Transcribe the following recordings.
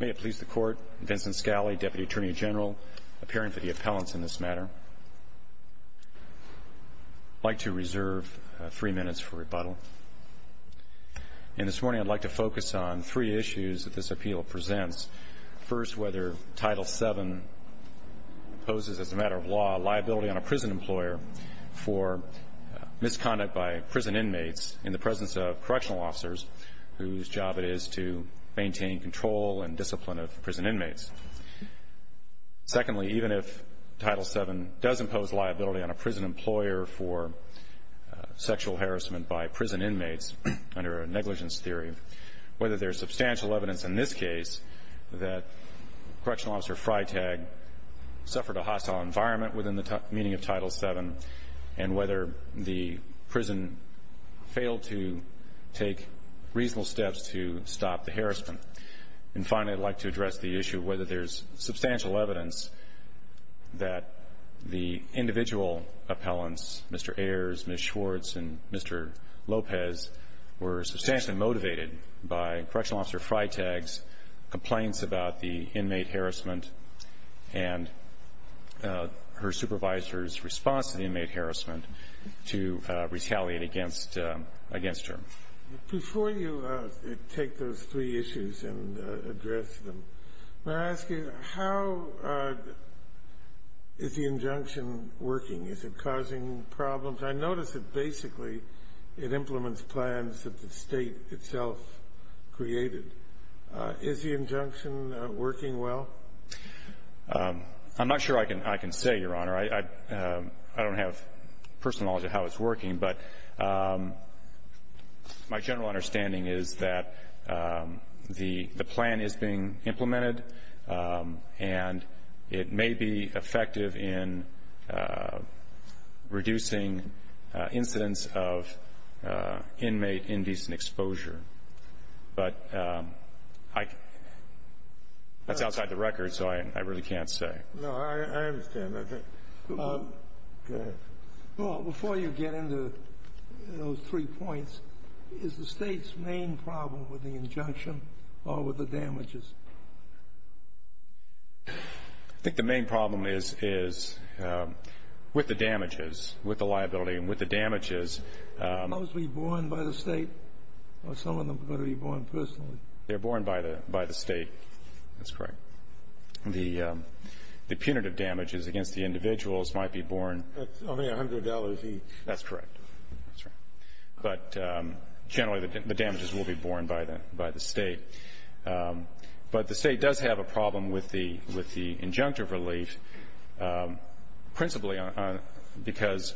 May it please the Court, Vincent Scali, Deputy Attorney General, appearing for the appellants in this matter. I'd like to reserve three minutes for rebuttal. And this morning I'd like to focus on three issues that this appeal presents. First, whether Title VII poses as a matter of law a liability on a prison employer for misconduct by prison inmates in the presence of correctional officers whose job it is to maintain control and discipline of prison inmates. Secondly, even if Title VII does impose liability on a prison employer for sexual harassment by prison inmates under a negligence theory, whether there is substantial evidence in this case that Correctional Officer Freitag suffered a hostile environment within the meaning of Title VII, and whether the prison failed to take reasonable steps to stop the harassment. And finally, I'd like to address the issue of whether there's substantial evidence that the individual appellants, Mr. Ayers, Ms. Schwartz, and Mr. Lopez, were substantially motivated by Correctional Officer Freitag's complaints about the inmate harassment and her supervisor's response to the inmate harassment to retaliate against her. Before you take those three issues and address them, may I ask you how is the injunction working? Is it causing problems? I notice that basically it implements plans that the State itself created. Is the injunction working well? I'm not sure I can say, Your Honor. I don't have personal knowledge of how it's working. But my general understanding is that the plan is being implemented, and it may be effective in reducing incidents of inmate indecent exposure. But that's outside the record, so I really can't say. No, I understand. Before you get into those three points, is the State's main problem with the injunction or with the damages? I think the main problem is with the damages, with the liability and with the damages. Are those going to be borne by the State, or some of them are going to be borne personally? They're borne by the State. That's correct. The punitive damages against the individuals might be borne. That's only $100 each. That's correct. That's right. But generally the damages will be borne by the State. But the State does have a problem with the injunctive relief, principally because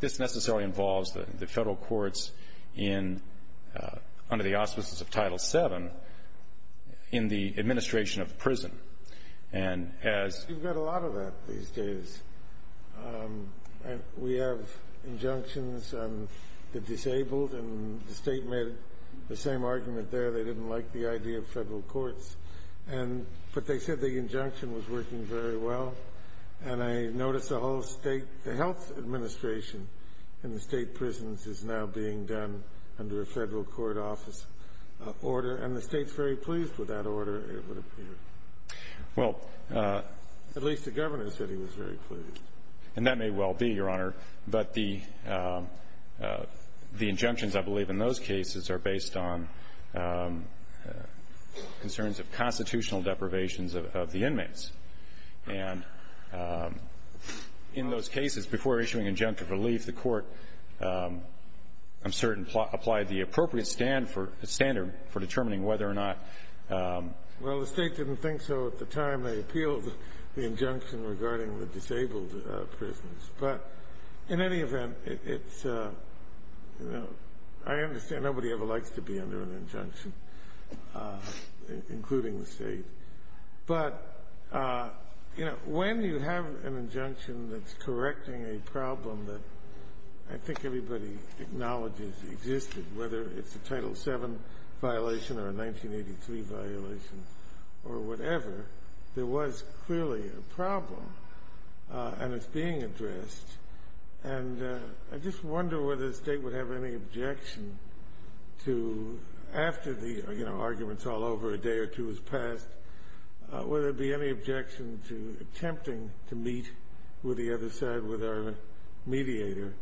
this necessarily involves the Federal courts in, under the auspices of Title VII, in the administration of prison. And as you've got a lot of that these days. We have injunctions on the disabled, and the State made the same argument there. They didn't like the idea of Federal courts. But they said the injunction was working very well. And I noticed the whole State, the health administration in the State prisons, is now being done under a Federal court office order. And the State's very pleased with that order, it would appear. Well, at least the Governor said he was very pleased. And that may well be, Your Honor. But the injunctions, I believe, in those cases, are based on concerns of constitutional deprivations of the inmates. And in those cases, before issuing injunctive relief, the Court, I'm certain, applied the appropriate standard for determining whether or not. Well, the State didn't think so at the time. They appealed the injunction regarding the disabled prisons. But in any event, I understand nobody ever likes to be under an injunction, including the State. But when you have an injunction that's correcting a problem that I think everybody acknowledges existed, whether it's a Title VII violation or a 1983 violation or whatever, there was clearly a problem, and it's being addressed. And I just wonder whether the State would have any objection to, after the argument's all over, a day or two has passed, would there be any objection to attempting to meet with the other side, with our mediator,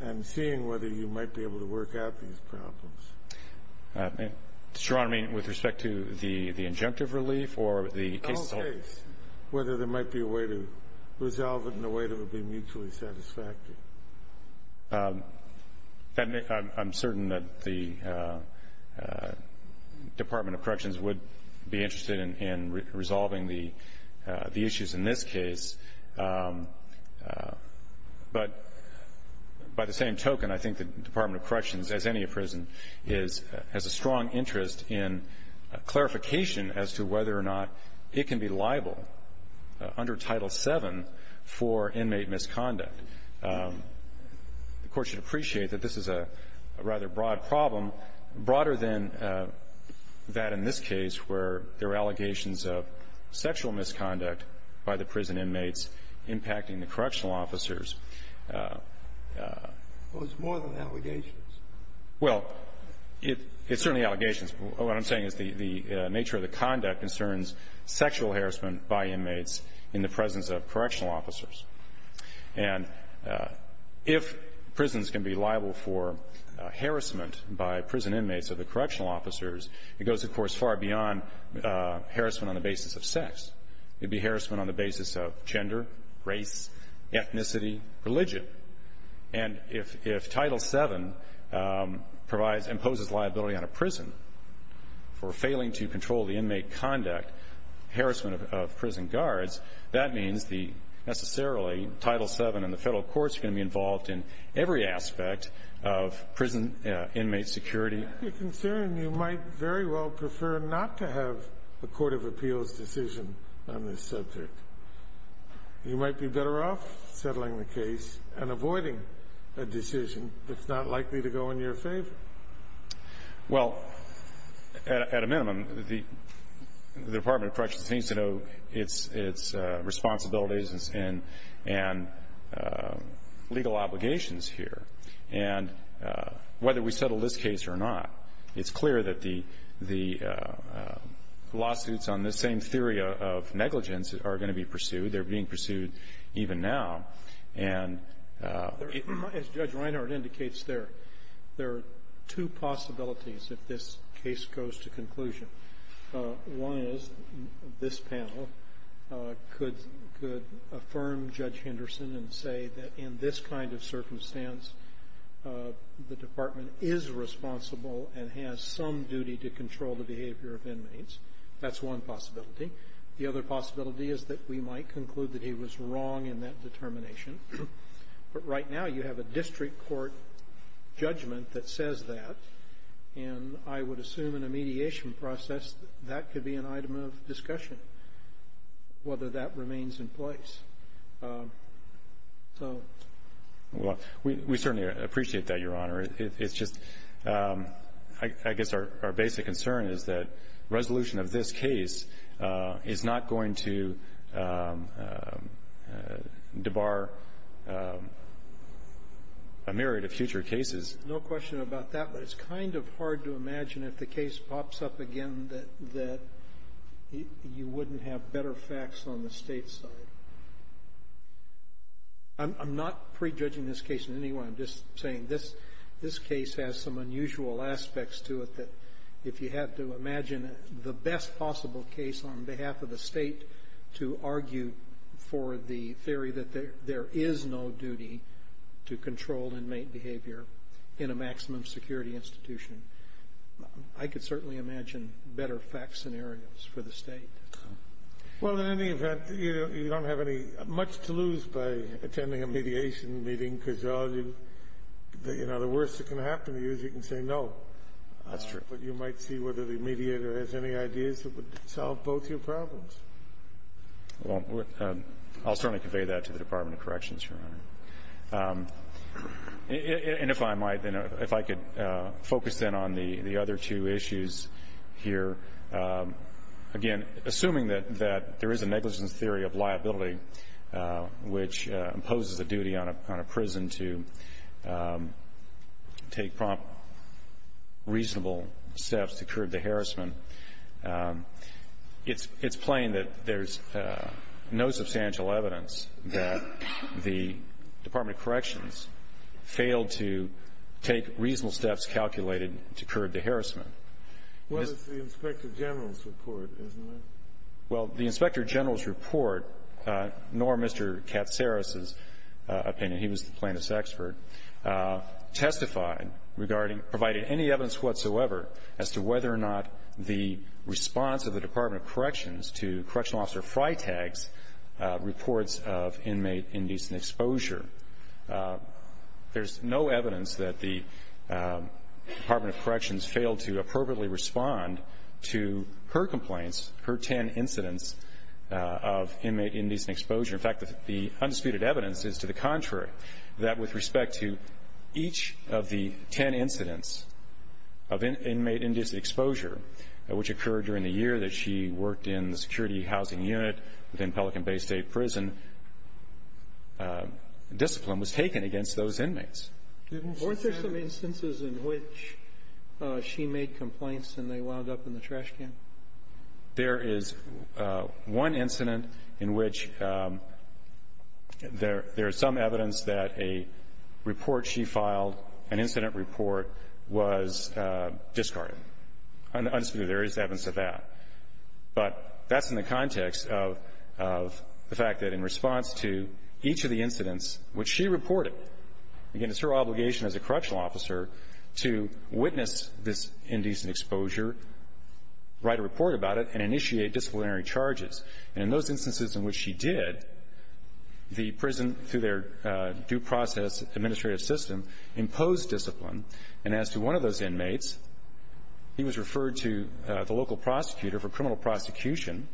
and seeing whether you might be able to work out these problems? Mr. Ron, I mean, with respect to the injunctive relief or the case itself? The whole case, whether there might be a way to resolve it in a way that would be mutually satisfactory. I'm certain that the Department of Corrections would be interested in resolving the issues in this case. But by the same token, I think the Department of Corrections, as any prison, has a strong interest in clarification as to whether or not it can be liable under Title VII for inmate misconduct. The Court should appreciate that this is a rather broad problem, broader than that in this case where there are allegations of sexual misconduct by the prison inmates impacting the correctional officers. Well, it's more than allegations. Well, it's certainly allegations. What I'm saying is the nature of the conduct concerns sexual harassment by inmates in the presence of correctional officers. And if prisons can be liable for harassment by prison inmates or the correctional officers, it goes, of course, far beyond harassment on the basis of sex. It would be harassment on the basis of gender, race, ethnicity, religion. And if Title VII imposes liability on a prison for failing to control the inmate conduct, harassment of prison guards, that means necessarily Title VII and the federal courts are going to be involved in every aspect of prison inmate security. I'm concerned you might very well prefer not to have a court of appeals decision on this subject. You might be better off settling the case and avoiding a decision that's not likely to go in your favor. Well, at a minimum, the Department of Corrections needs to know its responsibilities and legal obligations here. And whether we settle this case or not, it's clear that the lawsuits on this same theory of negligence are going to be pursued. They're being pursued even now. And as Judge Reinhart indicates there, there are two possibilities if this case goes to conclusion. One is this panel could affirm Judge Henderson and say that in this kind of circumstance, the department is responsible and has some duty to control the behavior of inmates. That's one possibility. The other possibility is that we might conclude that he was wrong in that determination. But right now, you have a district court judgment that says that. And I would assume in a mediation process, that could be an item of discussion, whether that remains in place. So. Well, we certainly appreciate that, Your Honor. It's just, I guess, our basic concern is that resolution of this case is not going to debar a myriad of future cases. No question about that. But it's kind of hard to imagine if the case pops up again that you wouldn't have better facts on the State side. I'm not prejudging this case in any way. I'm just saying this case has some unusual aspects to it that if you have to imagine the best possible case on behalf of the State to argue for the theory that there is no duty to control inmate behavior in a maximum security institution, I could certainly imagine better fact scenarios for the State. Well, in any event, you don't have much to lose by attending a mediation meeting, because the worst that can happen to you is you can say no. That's true. But you might see whether the mediator has any ideas that would solve both your problems. Well, I'll certainly convey that to the Department of Corrections, Your Honor. And if I might then, if I could focus then on the other two issues here. Again, assuming that there is a negligence theory of liability which imposes a duty on a prison to take prompt, reasonable steps to curb the harassment, it's plain that there's no substantial evidence that the Department of Corrections failed to take reasonable steps calculated to curb the harassment. Well, it's the Inspector General's report, isn't it? Well, the Inspector General's report, nor Mr. Katsaris's opinion, he was the plaintiff's expert, testified regarding, provided any evidence whatsoever as to whether or not the response of the Department of Corrections to Correctional Officer Freitag's reports of inmate indecent exposure. There's no evidence that the Department of Corrections failed to appropriately respond to her complaints, her 10 incidents of inmate indecent exposure. In fact, the undisputed evidence is to the contrary, that with respect to each of the 10 incidents of inmate indecent exposure, which occurred during the year that she worked in the Security Housing Unit within Pelican Bay State Prison, discipline was taken against those inmates. Weren't there some instances in which she made complaints and they wound up in the trash can? There is one incident in which there is some evidence that a report she filed, an incident report, was discarded. Undisputed, there is evidence of that. But that's in the context of the fact that in response to each of the incidents which she reported, again, it's her obligation as a correctional officer to witness this indecent exposure, write a report about it, and initiate disciplinary charges. And in those instances in which she did, the prison, through their due process administrative system, imposed discipline. And as to one of those inmates, he was referred to the local prosecutor for criminal prosecution.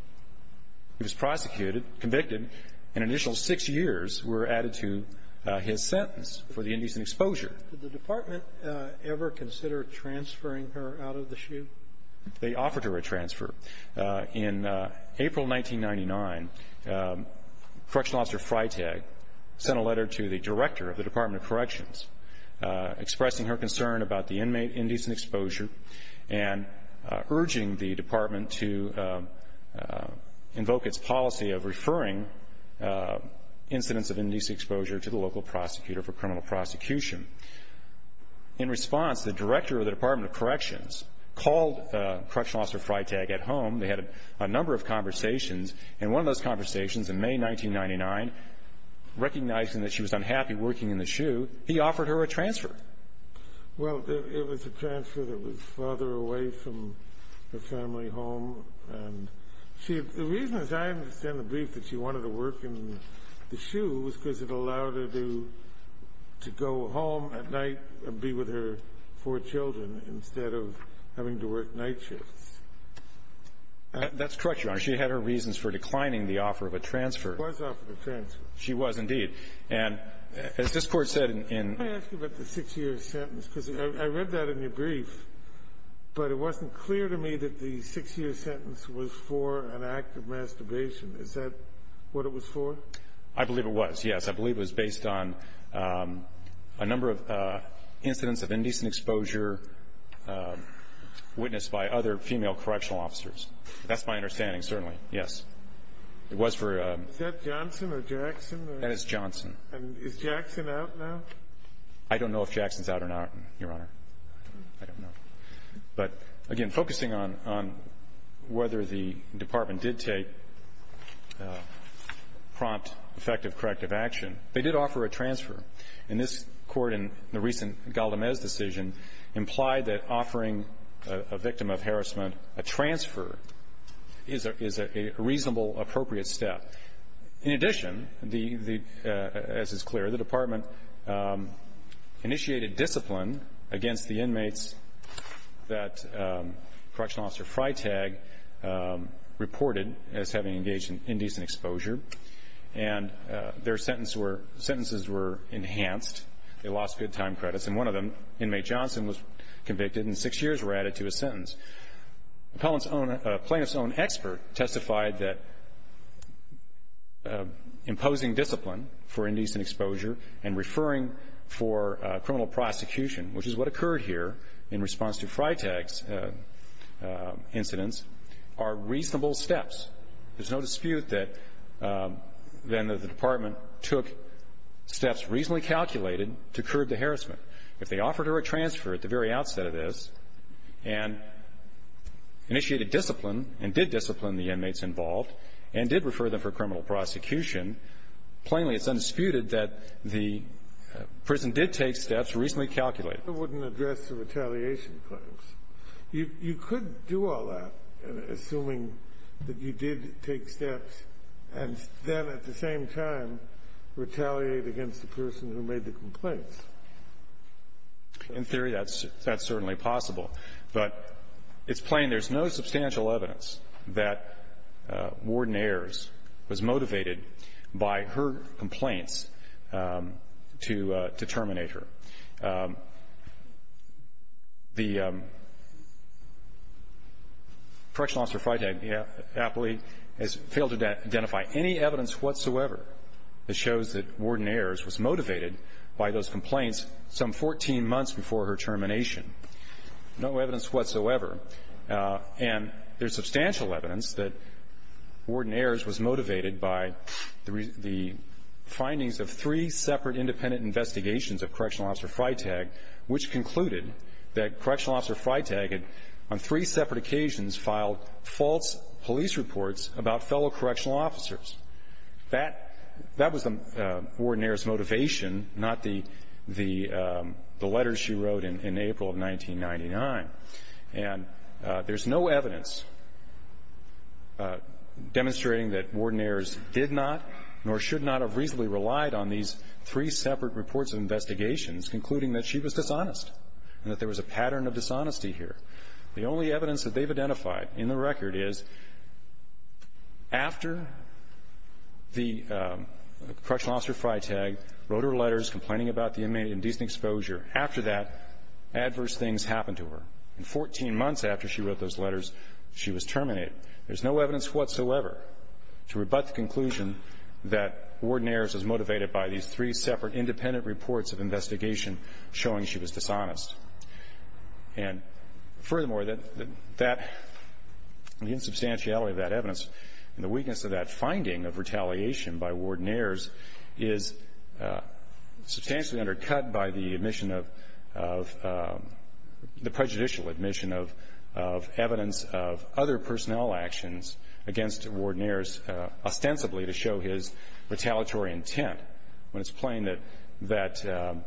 He was prosecuted, convicted. An initial six years were added to his sentence for the indecent exposure. Did the department ever consider transferring her out of the SHU? They offered her a transfer. In April 1999, Correctional Officer Freitag sent a letter to the director of the Department of Corrections, expressing her concern about the inmate indecent exposure and urging the department to invoke its policy of referring incidents of indecent exposure to the local prosecutor for criminal prosecution. In response, the director of the Department of Corrections called Correctional Officer Freitag at home. They had a number of conversations, and one of those conversations in May 1999, recognizing that she was unhappy working in the SHU, he offered her a transfer. Well, it was a transfer that was farther away from her family home. And the reason, as I understand the brief, that she wanted to work in the SHU was because it allowed her to go home at night and be with her four children instead of having to work night shifts. That's correct, Your Honor. She had her reasons for declining the offer of a transfer. She was offered a transfer. She was, indeed. And as this Court said in — May I ask you about the six-year sentence? Because I read that in your brief, but it wasn't clear to me that the six-year sentence was for an act of masturbation. Is that what it was for? I believe it was, yes. I believe it was based on a number of incidents of indecent exposure witnessed by other female correctional officers. That's my understanding, certainly, yes. It was for a — Is that Johnson or Jackson? That is Johnson. And is Jackson out now? I don't know if Jackson's out or not, Your Honor. I don't know. But, again, focusing on whether the Department did take prompt, effective, corrective action, they did offer a transfer. And this Court, in the recent Galdamez decision, implied that offering a victim of harassment a transfer is a reasonable, appropriate step. In addition, as is clear, the Department initiated discipline against the inmates that Correctional Officer Freitag reported as having engaged in indecent exposure. And their sentences were enhanced. They lost good time credits. And one of them, Inmate Johnson, was convicted and six years were added to his sentence. A plaintiff's own expert testified that imposing discipline for indecent exposure and referring for criminal prosecution, which is what occurred here in response to Freitag's incidents, are reasonable steps. There's no dispute that then the Department took steps reasonably calculated to curb the harassment. If they offered her a transfer at the very outset of this and initiated discipline and did discipline the inmates involved and did refer them for criminal prosecution, plainly it's undisputed that the prison did take steps reasonably calculated. I wouldn't address the retaliation claims. You could do all that, assuming that you did take steps and then at the same time retaliate against the person who made the complaints. In theory, that's certainly possible. But it's plain there's no substantial evidence that Warden Ayers was motivated by her complaints to terminate her. The Correctional Officer Freitag aptly has failed to identify any evidence whatsoever that shows that Warden Ayers was motivated by those complaints some 14 months before her termination. No evidence whatsoever. And there's substantial evidence that Warden Ayers was motivated by the findings of three separate independent investigations of Correctional Officer Freitag, which concluded that Correctional Officer Freitag on three separate occasions filed false police reports about fellow correctional officers. That was Warden Ayers' motivation, not the letters she wrote in April of 1999. And there's no evidence demonstrating that Warden Ayers did not nor should not have reasonably relied on these three separate reports of investigations concluding that she was dishonest and that there was a pattern of dishonesty here. The only evidence that they've identified in the record is after the Correctional Officer Freitag wrote her letters complaining about the inmate and decent exposure, after that adverse things happened to her. And 14 months after she wrote those letters, she was terminated. There's no evidence whatsoever to rebut the conclusion that Warden Ayers was motivated by these three separate independent reports of investigation showing she was dishonest. And furthermore, the insubstantiality of that evidence and the weakness of that finding of retaliation by Warden Ayers is substantially undercut by the admission of the prejudicial admission of evidence of other personnel actions against Warden Ayers ostensibly to show his retaliatory intent when it's plain that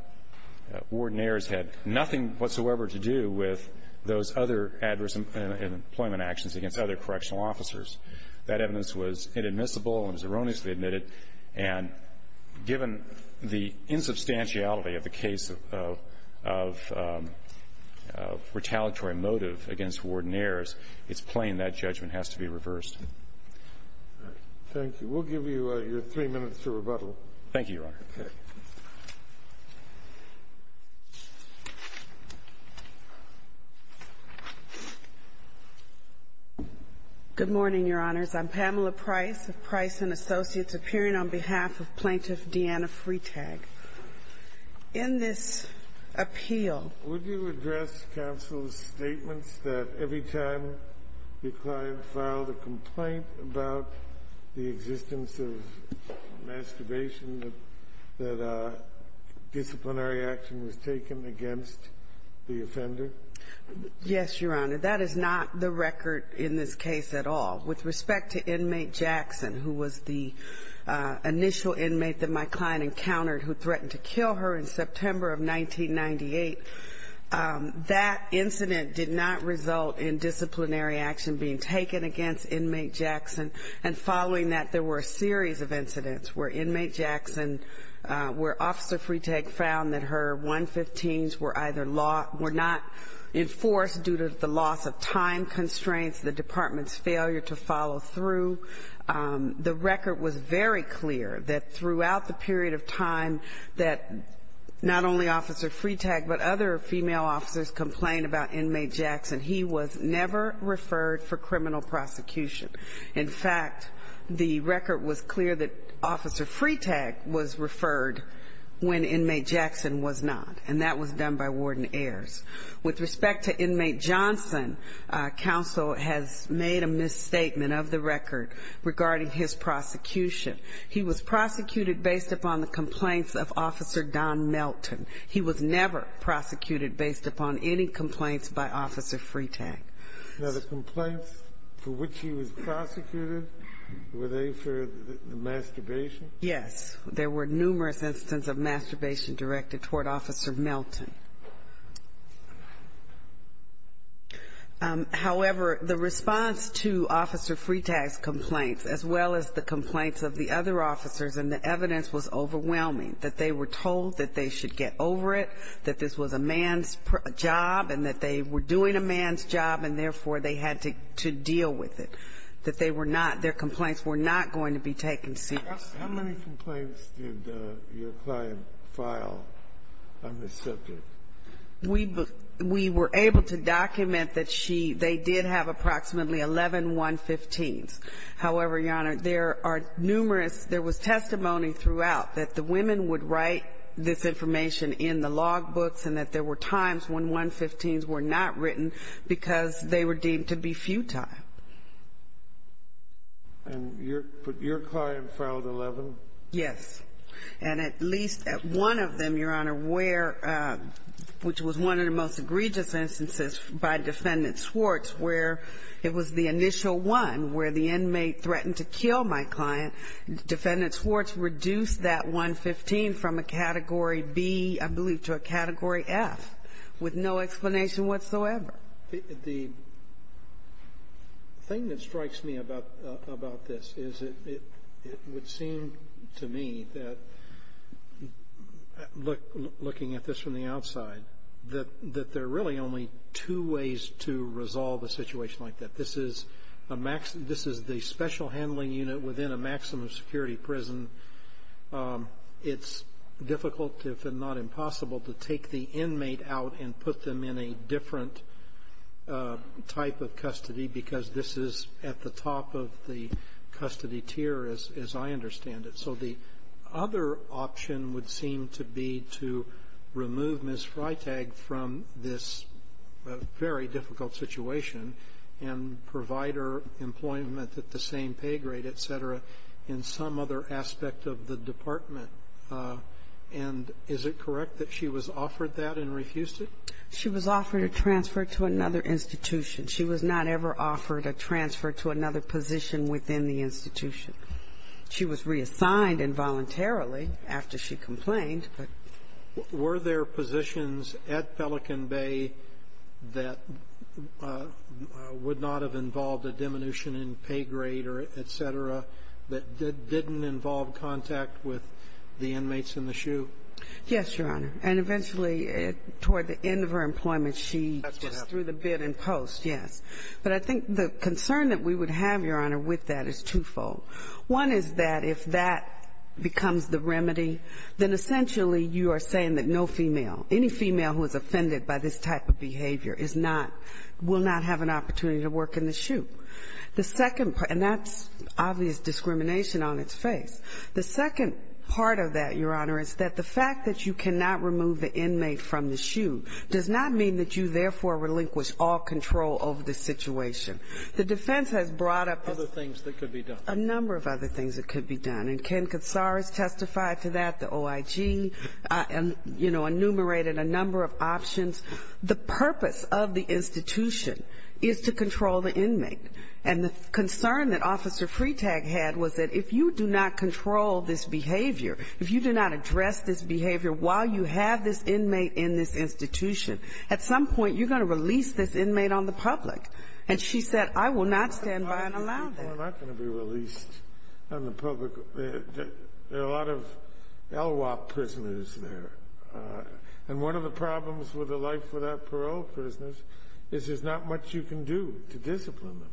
Warden Ayers had nothing whatsoever to do with those other adverse employment actions against other correctional officers. That evidence was inadmissible and was erroneously admitted. And given the insubstantiality of the case of retaliatory motive against Warden Ayers, it's plain that judgment has to be reversed. Thank you. We'll give you your three minutes to rebuttal. Thank you, Your Honor. Okay. Good morning, Your Honors. I'm Pamela Price of Price & Associates, appearing on behalf of Plaintiff Deanna Freitag. In this appeal, would you address counsel's statements that every time your client filed a complaint about the existence of masturbation, that disciplinary action was taken against the offender? Yes, Your Honor. That is not the record in this case at all. With respect to inmate Jackson, who was the initial inmate that my client encountered who threatened to kill her in September of 1998, that incident did not result in disciplinary action being taken against inmate Jackson. And following that, there were a series of incidents where inmate Jackson, where Officer Freitag found that her 115s were not enforced due to the loss of time constraints, the department's failure to follow through. The record was very clear that throughout the period of time that not only Officer Freitag but other female officers complained about inmate Jackson, he was never referred for criminal prosecution. In fact, the record was clear that Officer Freitag was referred when inmate Jackson was not, and that was done by warden Ayers. With respect to inmate Johnson, counsel has made a misstatement of the record regarding his prosecution. He was prosecuted based upon the complaints of Officer Don Melton. He was never prosecuted based upon any complaints by Officer Freitag. Now, the complaints for which he was prosecuted, were they for the masturbation? Yes. There were numerous instances of masturbation directed toward Officer Melton. However, the response to Officer Freitag's complaints, as well as the complaints of the other officers and the evidence, was overwhelming, that they were told that they should get over it, that this was a man's job and that they were doing a man's job, and therefore they had to deal with it, that they were not, their complaints were not going to be taken seriously. How many complaints did your client file on this subject? We were able to document that she, they did have approximately 11 115s. However, Your Honor, there are numerous, there was testimony throughout that the women would write this information in the logbooks and that there were times when 115s were not written because they were deemed to be futile. And your client filed 11? Yes. And at least at one of them, Your Honor, where, which was one of the most egregious instances by Defendant Swartz where it was the initial one where the inmate threatened to kill my client, Defendant Swartz reduced that 115 from a Category B, I believe, to a Category F with no explanation whatsoever. The thing that strikes me about this is it would seem to me that, looking at this from the outside, that there are really only two ways to resolve a situation like that. This is the special handling unit within a maximum security prison. It's difficult, if not impossible, to take the inmate out and put them in a different type of custody because this is at the top of the custody tier, as I understand it. So the other option would seem to be to remove Ms. Freitag from this very difficult situation and provide her employment at the same pay grade, et cetera, in some other aspect of the department. And is it correct that she was offered that and refused it? She was offered a transfer to another institution. She was not ever offered a transfer to another position within the institution. She was reassigned involuntarily after she complained. Were there positions at Pelican Bay that would not have involved a diminution in pay grade, et cetera, that didn't involve contact with the inmates in the SHU? Yes, Your Honor. And eventually, toward the end of her employment, she just threw the bid in post, yes. But I think the concern that we would have, Your Honor, with that is twofold. One is that if that becomes the remedy, then essentially you are saying that no female, any female who is offended by this type of behavior is not – will not have an opportunity to work in the SHU. The second – and that's obvious discrimination on its face. The second part of that, Your Honor, is that the fact that you cannot remove the inmate from the SHU does not mean that you therefore relinquish all control over the situation. The defense has brought up this – Other things that could be done. A number of other things that could be done. And Ken Katsaris testified to that. The OIG, you know, enumerated a number of options. The purpose of the institution is to control the inmate. And the concern that Officer Freetag had was that if you do not control this behavior, if you do not address this behavior while you have this inmate in this institution, at some point you're going to release this inmate on the public. And she said, I will not stand by and allow that. Well, they're not going to be released on the public. There are a lot of LWOP prisoners there. And one of the problems with a life without parole prisoners is there's not much you can do to discipline them.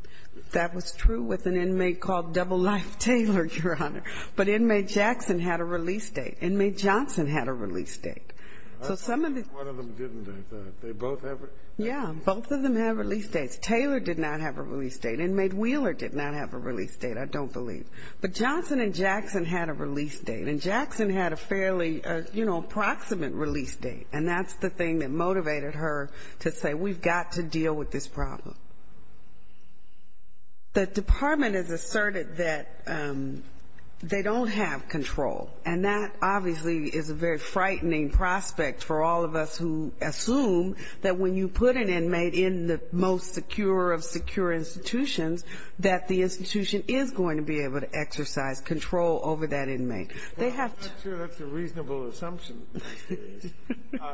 That was true with an inmate called Double Life Taylor, Your Honor. But Inmate Jackson had a release date. Inmate Johnson had a release date. So some of the – One of them didn't, I thought. They both have – Yeah. Both of them have release dates. Taylor did not have a release date. Inmate Wheeler did not have a release date, I don't believe. But Johnson and Jackson had a release date. And Jackson had a fairly, you know, approximate release date. And that's the thing that motivated her to say, we've got to deal with this problem. The department has asserted that they don't have control. And that obviously is a very frightening prospect for all of us who assume that when you put an inmate in the most secure of secure institutions that the institution is going to be able to exercise control over that inmate. They have to – Well, I'm not sure that's a reasonable assumption.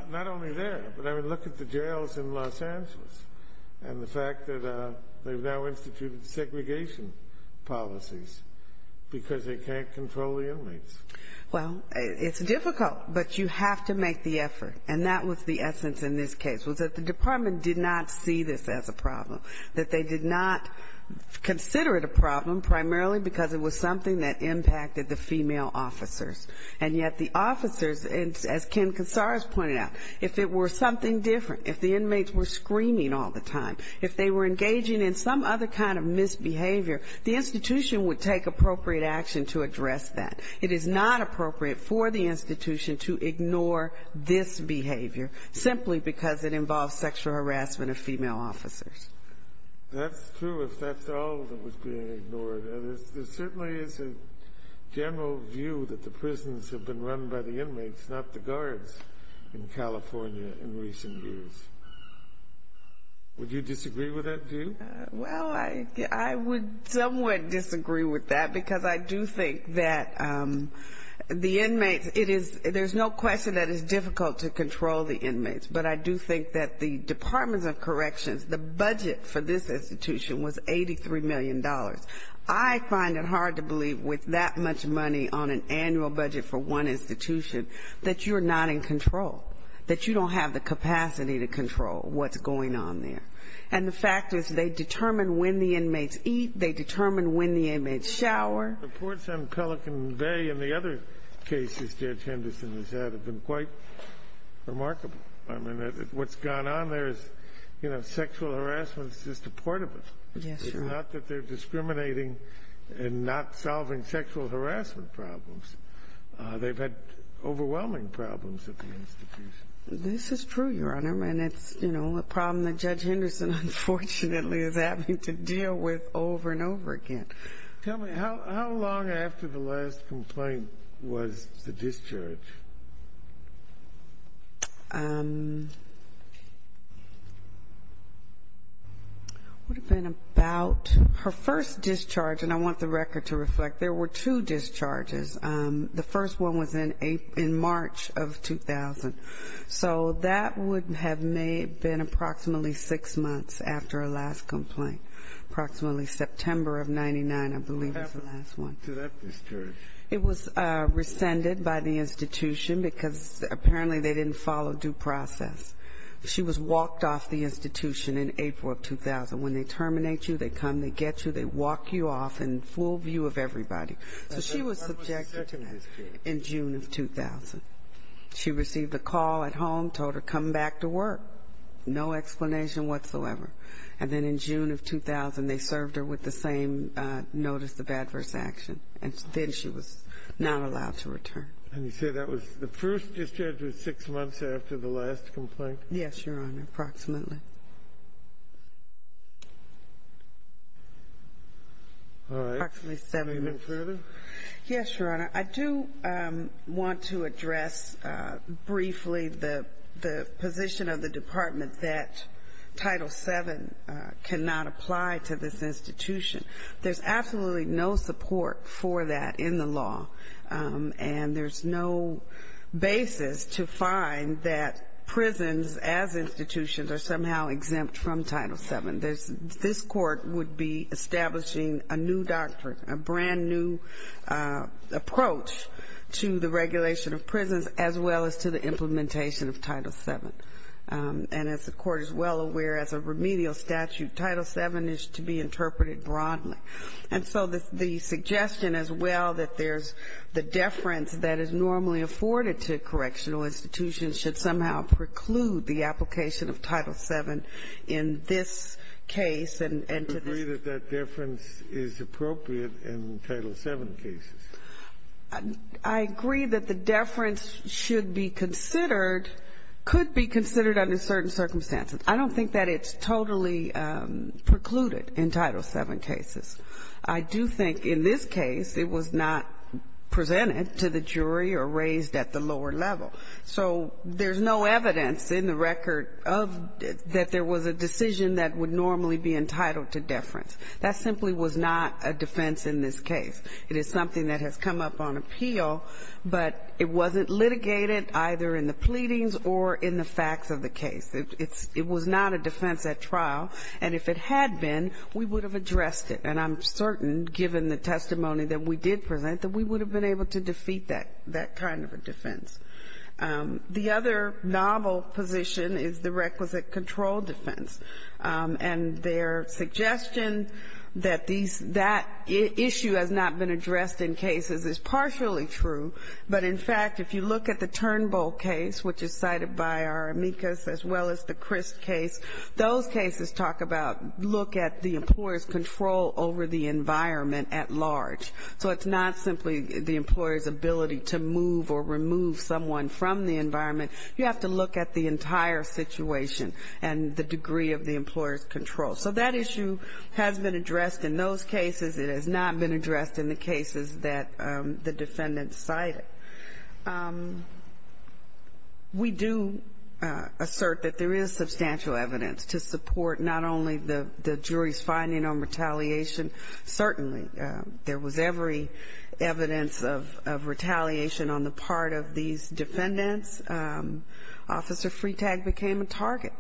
Not only there, but I mean, look at the jails in Los Angeles and the fact that they've now instituted segregation policies because they can't control the inmates. Well, it's difficult, but you have to make the effort. And that was the essence in this case, was that the department did not see this as a problem, that they did not consider it a problem primarily because it was something that impacted the female officers. And yet the officers, as Ken Casares pointed out, if it were something different, if the inmates were screaming all the time, if they were engaging in some other kind of misbehavior, the institution would take appropriate action to address that. It is not appropriate for the institution to ignore this behavior simply because it involves sexual harassment of female officers. That's true, if that's all that was being ignored. There certainly is a general view that the prisons have been run by the inmates, not the guards, in California in recent years. Would you disagree with that view? Well, I would somewhat disagree with that, because I do think that the inmates, it is, there's no question that it's difficult to control the inmates, but I do think that the departments of corrections, the budget for this institution was $83 million. I find it hard to believe with that much money on an annual budget for one institution that you're not in control, that you don't have the capacity to control what's going on there. And the fact is they determine when the inmates eat, they determine when the inmates shower. Reports on Pelican Bay and the other cases Judge Henderson has had have been quite remarkable. I mean, what's gone on there is, you know, sexual harassment is just a part of it. Yes, Your Honor. It's not that they're discriminating and not solving sexual harassment problems. They've had overwhelming problems at the institution. This is true, Your Honor, and it's, you know, a problem that Judge Henderson, unfortunately, is having to deal with over and over again. Tell me, how long after the last complaint was the discharge? Would have been about her first discharge, and I want the record to reflect. There were two discharges. The first one was in March of 2000. So that would have been approximately six months after her last complaint, approximately September of 99, I believe was the last one. What happened to that discharge? It was rescinded by the institution because apparently they didn't follow due process. She was walked off the institution in April of 2000. When they terminate you, they come, they get you, they walk you off in full view of everybody. So she was subjected to that in June of 2000. She received a call at home, told her come back to work, no explanation whatsoever. And then in June of 2000, they served her with the same notice of adverse action, and then she was not allowed to return. And you say that was the first discharge was six months after the last complaint? Yes, Your Honor, approximately. Approximately seven months. All right. Anything further? Yes, Your Honor. I do want to address briefly the position of the department that Title VII cannot apply to this institution. There's absolutely no support for that in the law, and there's no basis to find that prisons as institutions are somehow exempt from Title VII. This Court would be establishing a new doctrine, a brand-new approach to the regulation of prisons as well as to the implementation of Title VII. And as the Court is well aware, as a remedial statute, Title VII is to be interpreted broadly. And so the suggestion as well that there's the deference that is normally afforded to correctional institutions should somehow preclude the application of Title VII in this case and to this one. Do you agree that that deference is appropriate in Title VII cases? I agree that the deference should be considered, could be considered under certain circumstances. I don't think that it's totally precluded in Title VII cases. I do think in this case it was not presented to the jury or raised at the lower level. So there's no evidence in the record of that there was a decision that would normally be entitled to deference. That simply was not a defense in this case. It is something that has come up on appeal, but it wasn't litigated either in the pleadings or in the facts of the case. It was not a defense at trial. And if it had been, we would have addressed it. And I'm certain, given the testimony that we did present, that we would have been able to defeat that kind of a defense. The other novel position is the requisite control defense. And their suggestion that that issue has not been addressed in cases is partially true. But, in fact, if you look at the Turnbull case, which is cited by our amicus, as well as the Crist case, those cases talk about look at the employer's control over the environment at large. So it's not simply the employer's ability to move or remove someone from the environment. You have to look at the entire situation and the degree of the employer's control. So that issue has been addressed in those cases. It has not been addressed in the cases that the defendants cited. We do assert that there is substantial evidence to support not only the jury's finding on retaliation. Certainly, there was every evidence of retaliation on the part of these defendants. Officer Freetag became a target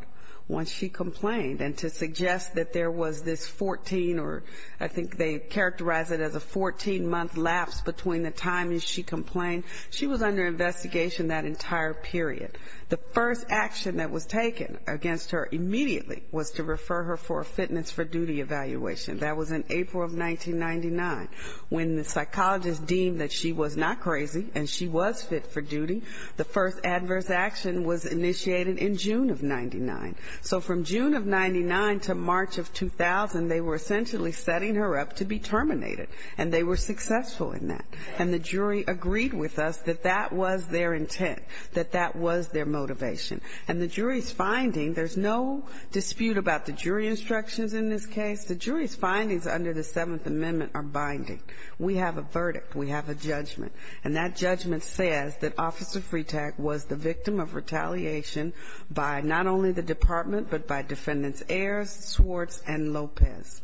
when she complained. And to suggest that there was this 14 or I think they characterized it as a 14-month lapse between the time she complained, she was under investigation that entire period. The first action that was taken against her immediately was to refer her for a fitness for duty evaluation. That was in April of 1999, when the psychologist deemed that she was not crazy and she was fit for duty. The first adverse action was initiated in June of 99. So from June of 99 to March of 2000, they were essentially setting her up to be terminated. And they were successful in that. And the jury agreed with us that that was their intent, that that was their motivation. And the jury's finding, there's no dispute about the jury instructions in this case. The jury's findings under the Seventh Amendment are binding. We have a verdict. We have a judgment. And that judgment says that Officer Freetag was the victim of retaliation by not only the department, but by defendants Ayers, Swartz, and Lopez.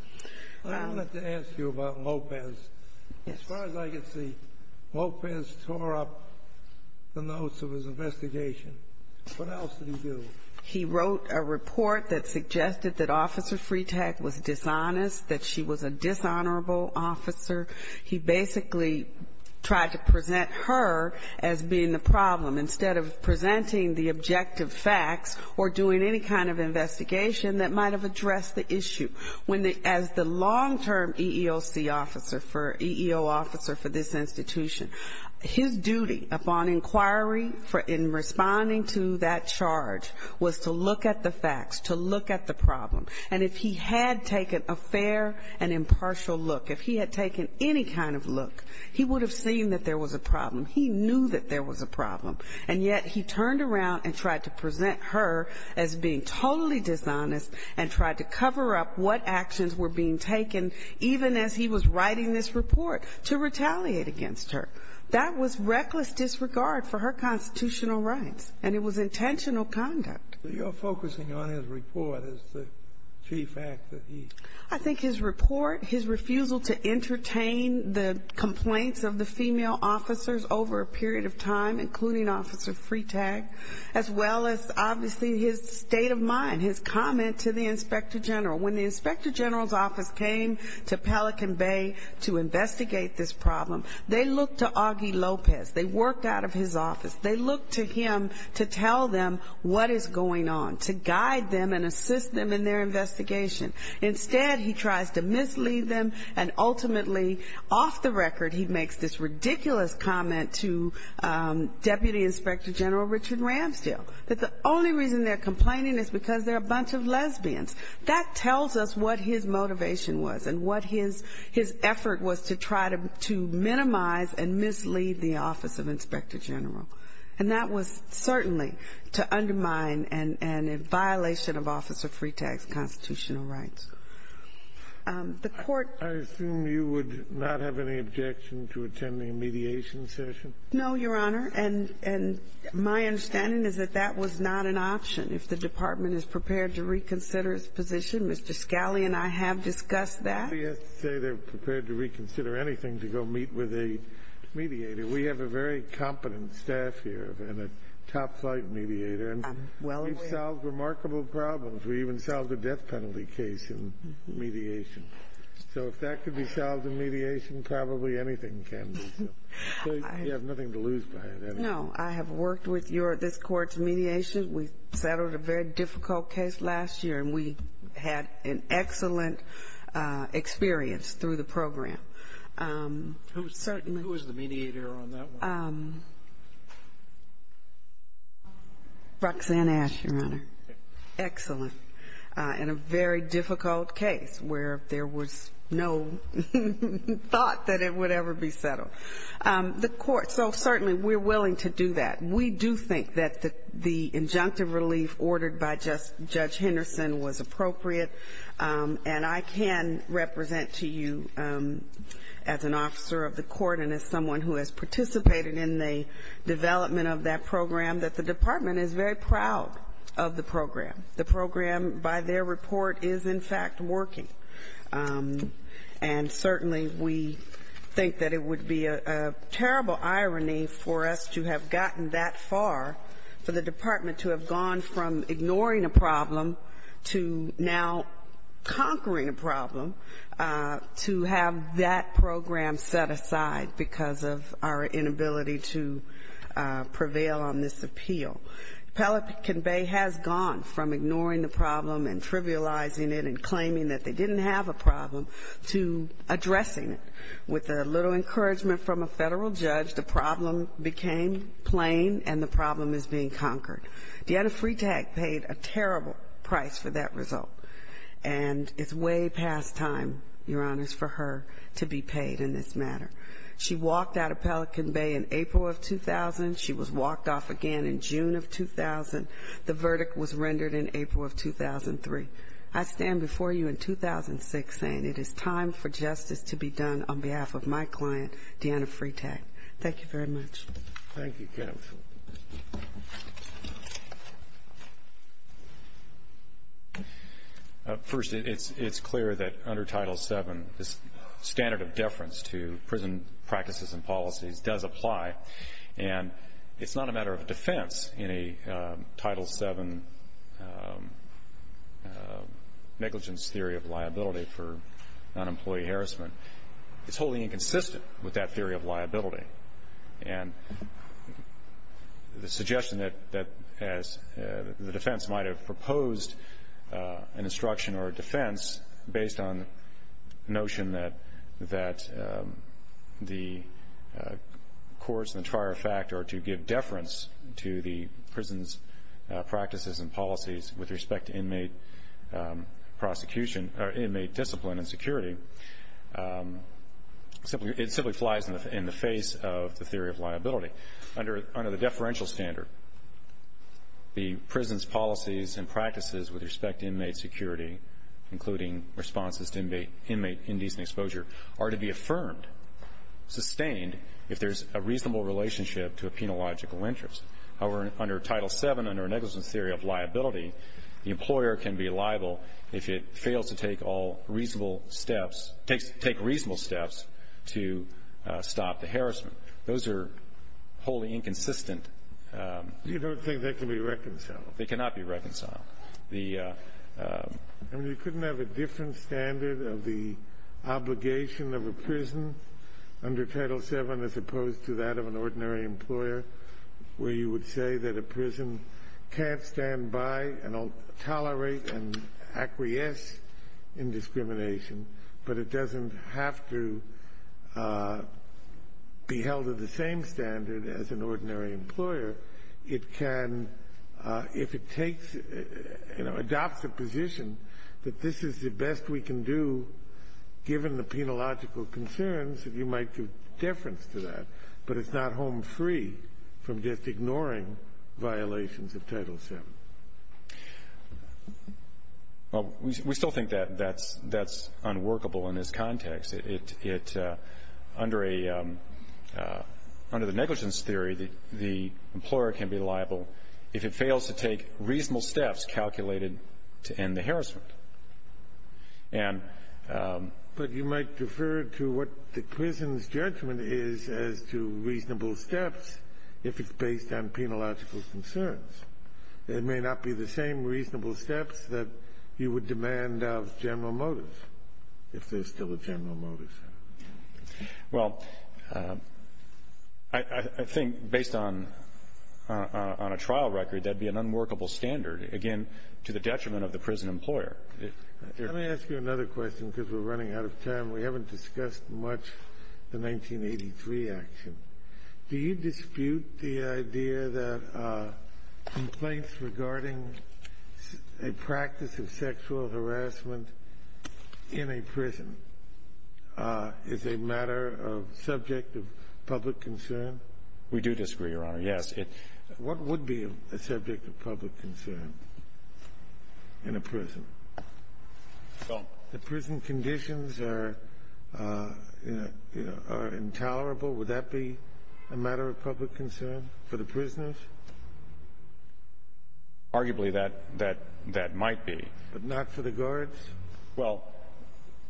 I wanted to ask you about Lopez. As far as I can see, Lopez tore up the notes of his investigation. What else did he do? He wrote a report that suggested that Officer Freetag was dishonest, that she was a dishonorable officer. He basically tried to present her as being the problem, instead of presenting the objective facts or doing any kind of investigation that might have addressed the issue. As the long-term EEOC officer for this institution, his duty upon inquiry in responding to that charge was to look at the facts, to look at the problem. And if he had taken a fair and impartial look, if he had taken any kind of look, he would have seen that there was a problem. He knew that there was a problem, and yet he turned around and tried to present her as being totally dishonest and tried to cover up what actions were being taken, even as he was writing this report, to retaliate against her. That was reckless disregard for her constitutional rights, and it was intentional conduct. So you're focusing on his report as the chief act that he... I think his report, his refusal to entertain the complaints of the female officers over a period of time, including Officer Freetag, as well as obviously his state of mind, his comment to the Inspector General. When the Inspector General's office came to Pelican Bay to investigate this problem, they looked to Augie Lopez. They worked out of his office. They looked to him to tell them what is going on, to guide them and assist them in their investigation. Instead, he tries to mislead them, and ultimately, off the record, he makes this ridiculous comment to Deputy Inspector General Richard Ramsdale, that the only reason they're complaining is because they're a bunch of lesbians. That tells us what his motivation was and what his effort was to try to minimize and mislead the office. And that was certainly to undermine and in violation of Officer Freetag's constitutional rights. The Court... I assume you would not have any objection to attending a mediation session? No, Your Honor, and my understanding is that that was not an option. If the Department is prepared to reconsider its position, Mr. Scali and I have discussed that. We have a very competent staff here and a top-flight mediator, and we've solved remarkable problems. We even solved a death penalty case in mediation. So if that could be solved in mediation, probably anything can be. You have nothing to lose by that. No, I have worked with this Court's mediation. We settled a very difficult case last year, and we had an excellent experience through the program. Who is the mediator on that one? Roxanne Ash, Your Honor. Excellent. And a very difficult case where there was no thought that it would ever be settled. The Court... So certainly, we're willing to do that. We do think that the injunctive relief ordered by Judge Henderson was appropriate, and I can represent to you the fact that it was not. As an officer of the Court and as someone who has participated in the development of that program, that the Department is very proud of the program. The program, by their report, is in fact working. And certainly, we think that it would be a terrible irony for us to have gotten that far, for the Department to have gone from ignoring a problem to now conquering a problem, to have that program set aside because of our inability to prevail on this appeal. Pelican Bay has gone from ignoring the problem and trivializing it and claiming that they didn't have a problem to addressing it. With a little encouragement from a Federal judge, the problem became plain, and the problem is being conquered. Deanna Freetag paid a terrible price for that result, and it's way past time, Your Honor, for her to be paid in this matter. She walked out of Pelican Bay in April of 2000, she was walked off again in June of 2000, the verdict was rendered in April of 2003. I stand before you in 2006 saying it is time for justice to be done on behalf of my client, Deanna Freetag. Thank you very much. First, it's clear that under Title VII, this standard of deference to prison practices and policies does apply. And it's not a matter of defense in a Title VII negligence theory of liability for non-employee harassment. It's wholly inconsistent with that theory of liability. And the suggestion that the defense might have proposed an instruction or a defense based on the notion that the courts and the trier of fact are to give deference to the prison's practices and policies with respect to inmate discipline and security, it simply flies in the face of the theory of liability. Under the deferential standard, the prison's policies and practices with respect to inmate security, including responses to inmate indecent exposure, are to be affirmed, sustained, if there's a reasonable relationship to a penological interest. However, under Title VII, under a negligence theory of liability, the employer can be liable if it fails to take all reasonable steps, take reasonable steps to stop the harassment. Those are wholly inconsistent. You don't think they can be reconciled? They cannot be reconciled. I mean, you couldn't have a different standard of the obligation of a prison under Title VII as opposed to that of an ordinary employer, where you would say that a prison can't stand by and tolerate and acquiesce in discrimination, but it doesn't have to be held to the same standard as an ordinary employer. It can, if it takes, you know, adopts a position that this is the best we can do, given the penological concerns, that you might do difference to that, but it's not home free from just ignoring violations of Title VII. Well, we still think that that's unworkable in this context. Under the negligence theory, the employer can be liable if it fails to take reasonable steps calculated to end the harassment. But you might defer to what the prison's judgment is as to reasonable steps, if it's based on penological concerns. They may not be the same reasonable steps that you would demand of general motives, if there's still a general motive. Well, I think based on a trial record, that'd be an unworkable standard, again, to the detriment of the prison employer. Let me ask you another question, because we're running out of time. We haven't discussed much the 1983 action. Do you dispute the idea that complaints regarding a practice of sexual harassment in a prison is a matter of subject of public concern? We do disagree, Your Honor, yes. What would be a subject of public concern in a prison? The prison conditions are intolerable. Would that be a matter of public concern for the prisoners? Arguably, that might be. But not for the guards? Well,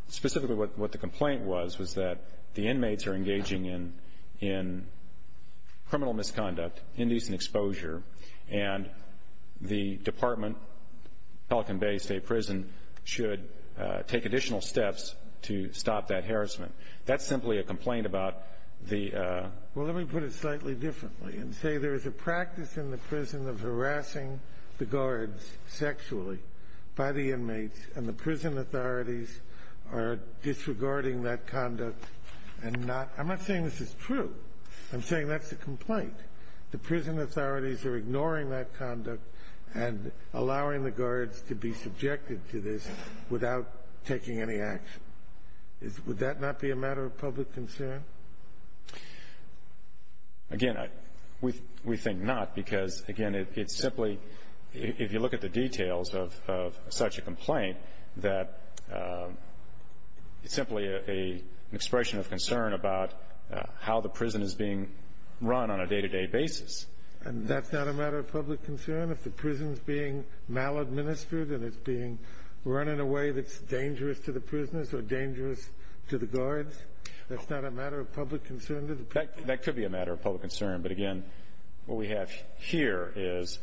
specifically what the complaint was, was that the inmates are engaging in criminal misconduct, indecent exposure, and the department, Pelican Bay State Prison, should take additional steps to stop that harassment. That's simply a complaint about the... Well, let me put it slightly differently and say there is a practice in the prison of harassing the guards sexually by the inmates, and the prison authorities are disregarding that conduct and not... I'm not saying this is true. I'm saying that's a complaint. The prison authorities are ignoring that conduct and allowing the guards to be subjected to this without taking any action. Would that not be a matter of public concern? Again, we think not, because, again, it's simply... We don't have any examples of such a complaint that it's simply an expression of concern about how the prison is being run on a day-to-day basis. And that's not a matter of public concern if the prison's being maladministered and it's being run in a way that's dangerous to the prisoners or dangerous to the guards? That's not a matter of public concern to the prisoners? That could be a matter of public concern, but, again, what we have here is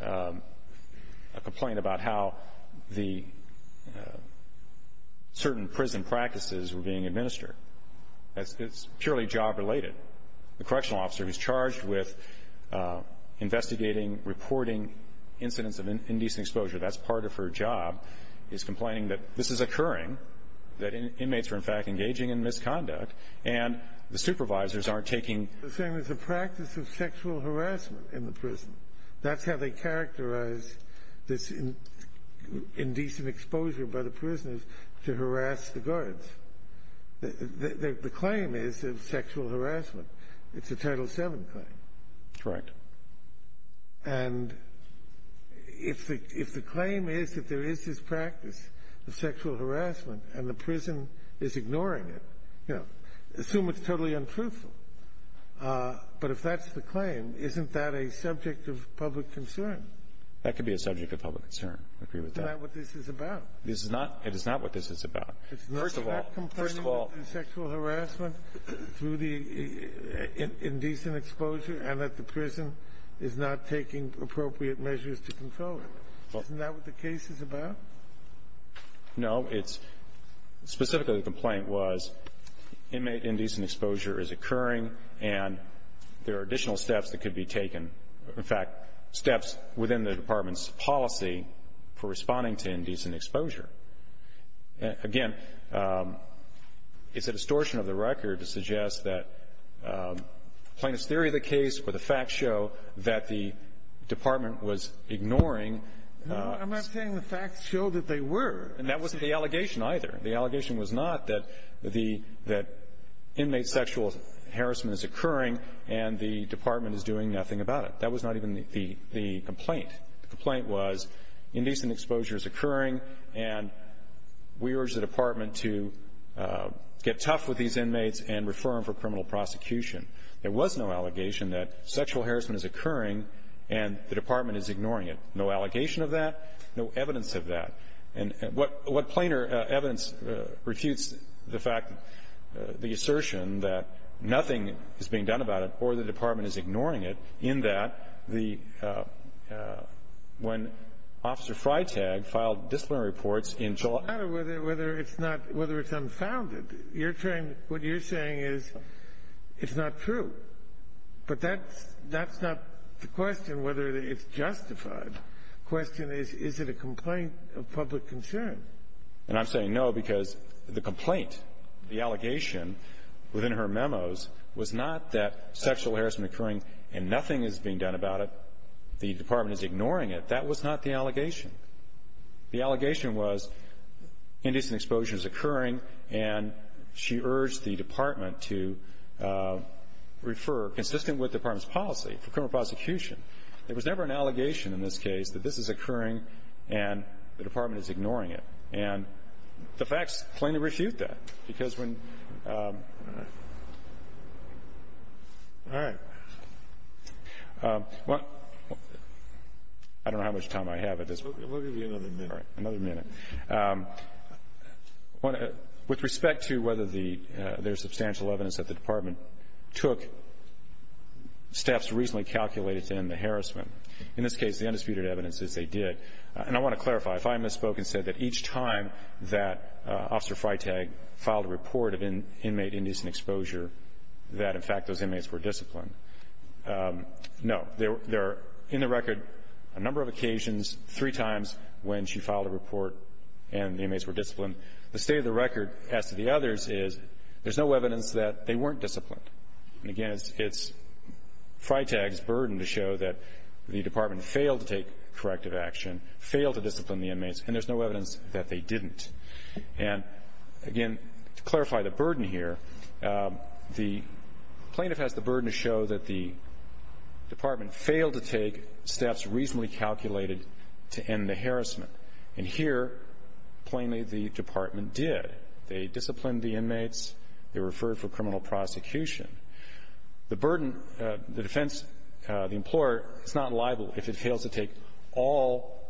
a complaint about how the certain prison practices were being administered. It's purely job-related. The correctional officer who's charged with investigating, reporting incidents of indecent exposure, that's part of her job, is complaining that this is occurring, that inmates are, in fact, engaging in misconduct, and the supervisors aren't taking... They're saying there's a practice of sexual harassment in the prison. That's how they characterize this indecent exposure by the prisoners to harass the guards. The claim is of sexual harassment. It's a Title VII claim. Correct. And if the claim is that there is this practice of sexual harassment and the prison is ignoring it, you know, assume it's totally untruthful. But if that's the claim, isn't that a subject of public concern? That could be a subject of public concern. I agree with that. Isn't that what this is about? It is not what this is about. First of all... Isn't that what the case is about? No. Specifically, the complaint was inmate indecent exposure is occurring, and there are additional steps that could be taken, in fact, steps within the Department's policy for responding to indecent exposure. Again, it's a distortion of the record to suggest that plaintiff's theory of the case or the facts show that the Department was ignoring... I'm not saying the facts show that they were. And that wasn't the allegation, either. The allegation was not that the inmate sexual harassment is occurring and the Department is doing nothing about it. That was not even the complaint. The complaint was indecent exposure is occurring, and we urge the Department to get tough with these inmates and refer them for criminal prosecution. There was no allegation that sexual harassment is occurring and the Department is ignoring it. No allegation of that. No evidence of that. And what plainer evidence refutes the fact, the assertion that nothing is being done about it or the Department is ignoring it in that the — when Officer Freitag filed disciplinary reports in July... It doesn't matter whether it's not — whether it's unfounded. You're trying — what you're saying is it's not true. But that's not the question, whether it's justified. The question is, is it a complaint of public concern? And I'm saying no because the complaint, the allegation within her memos was not that sexual harassment occurring and nothing is being done about it, the Department is ignoring it. That was not the allegation. The allegation was indecent exposure is occurring, and she urged the Department to refer, consistent with the Department's policy, for criminal prosecution. There was never an allegation in this case that this is occurring and the Department is ignoring it. And the facts plainly refute that because when — all right. All right. I don't know how much time I have at this point. We'll give you another minute. All right. Another minute. With respect to whether there's substantial evidence that the Department took steps reasonably calculated to end the harassment, in this case, the undisputed evidence is they did. And I want to clarify. If I misspoke and said that each time that Officer Freitag filed a report of inmate indecent exposure that, in fact, those inmates were disciplined, no. There are, in the record, a number of occasions, three times when she filed a report and the inmates were disciplined. The state of the record as to the others is there's no evidence that they weren't disciplined. And, again, it's Freitag's burden to show that the Department failed to take corrective action, failed to discipline the inmates, and there's no evidence that they didn't. And, again, to clarify the burden here, the plaintiff has the burden to show that the Department failed to take steps reasonably calculated to end the harassment. And here, plainly, the Department did. They disciplined the inmates. They referred for criminal prosecution. The burden, the defense, the employer, is not liable if it fails to take all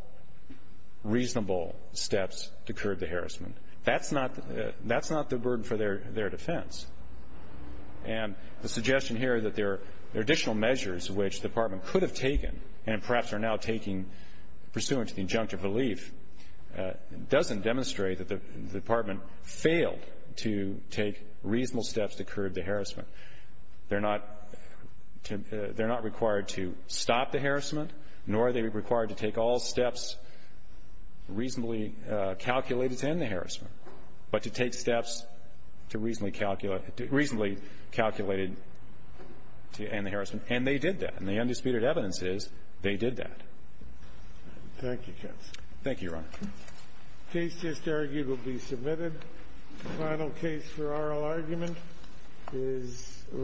reasonable steps to curb the harassment. That's not the burden for their defense. And the suggestion here that there are additional measures which the Department could have taken and perhaps are now taking pursuant to the injunctive relief doesn't demonstrate that the Department failed to take reasonable steps to curb the harassment. They're not required to stop the harassment, nor are they required to take all steps reasonably calculated to end the harassment, but to take steps reasonably calculated to end the harassment. And they did that. And the undisputed evidence is they did that. Thank you, counsel. Thank you, Your Honor. The case just argued will be submitted. The final case for oral argument is read.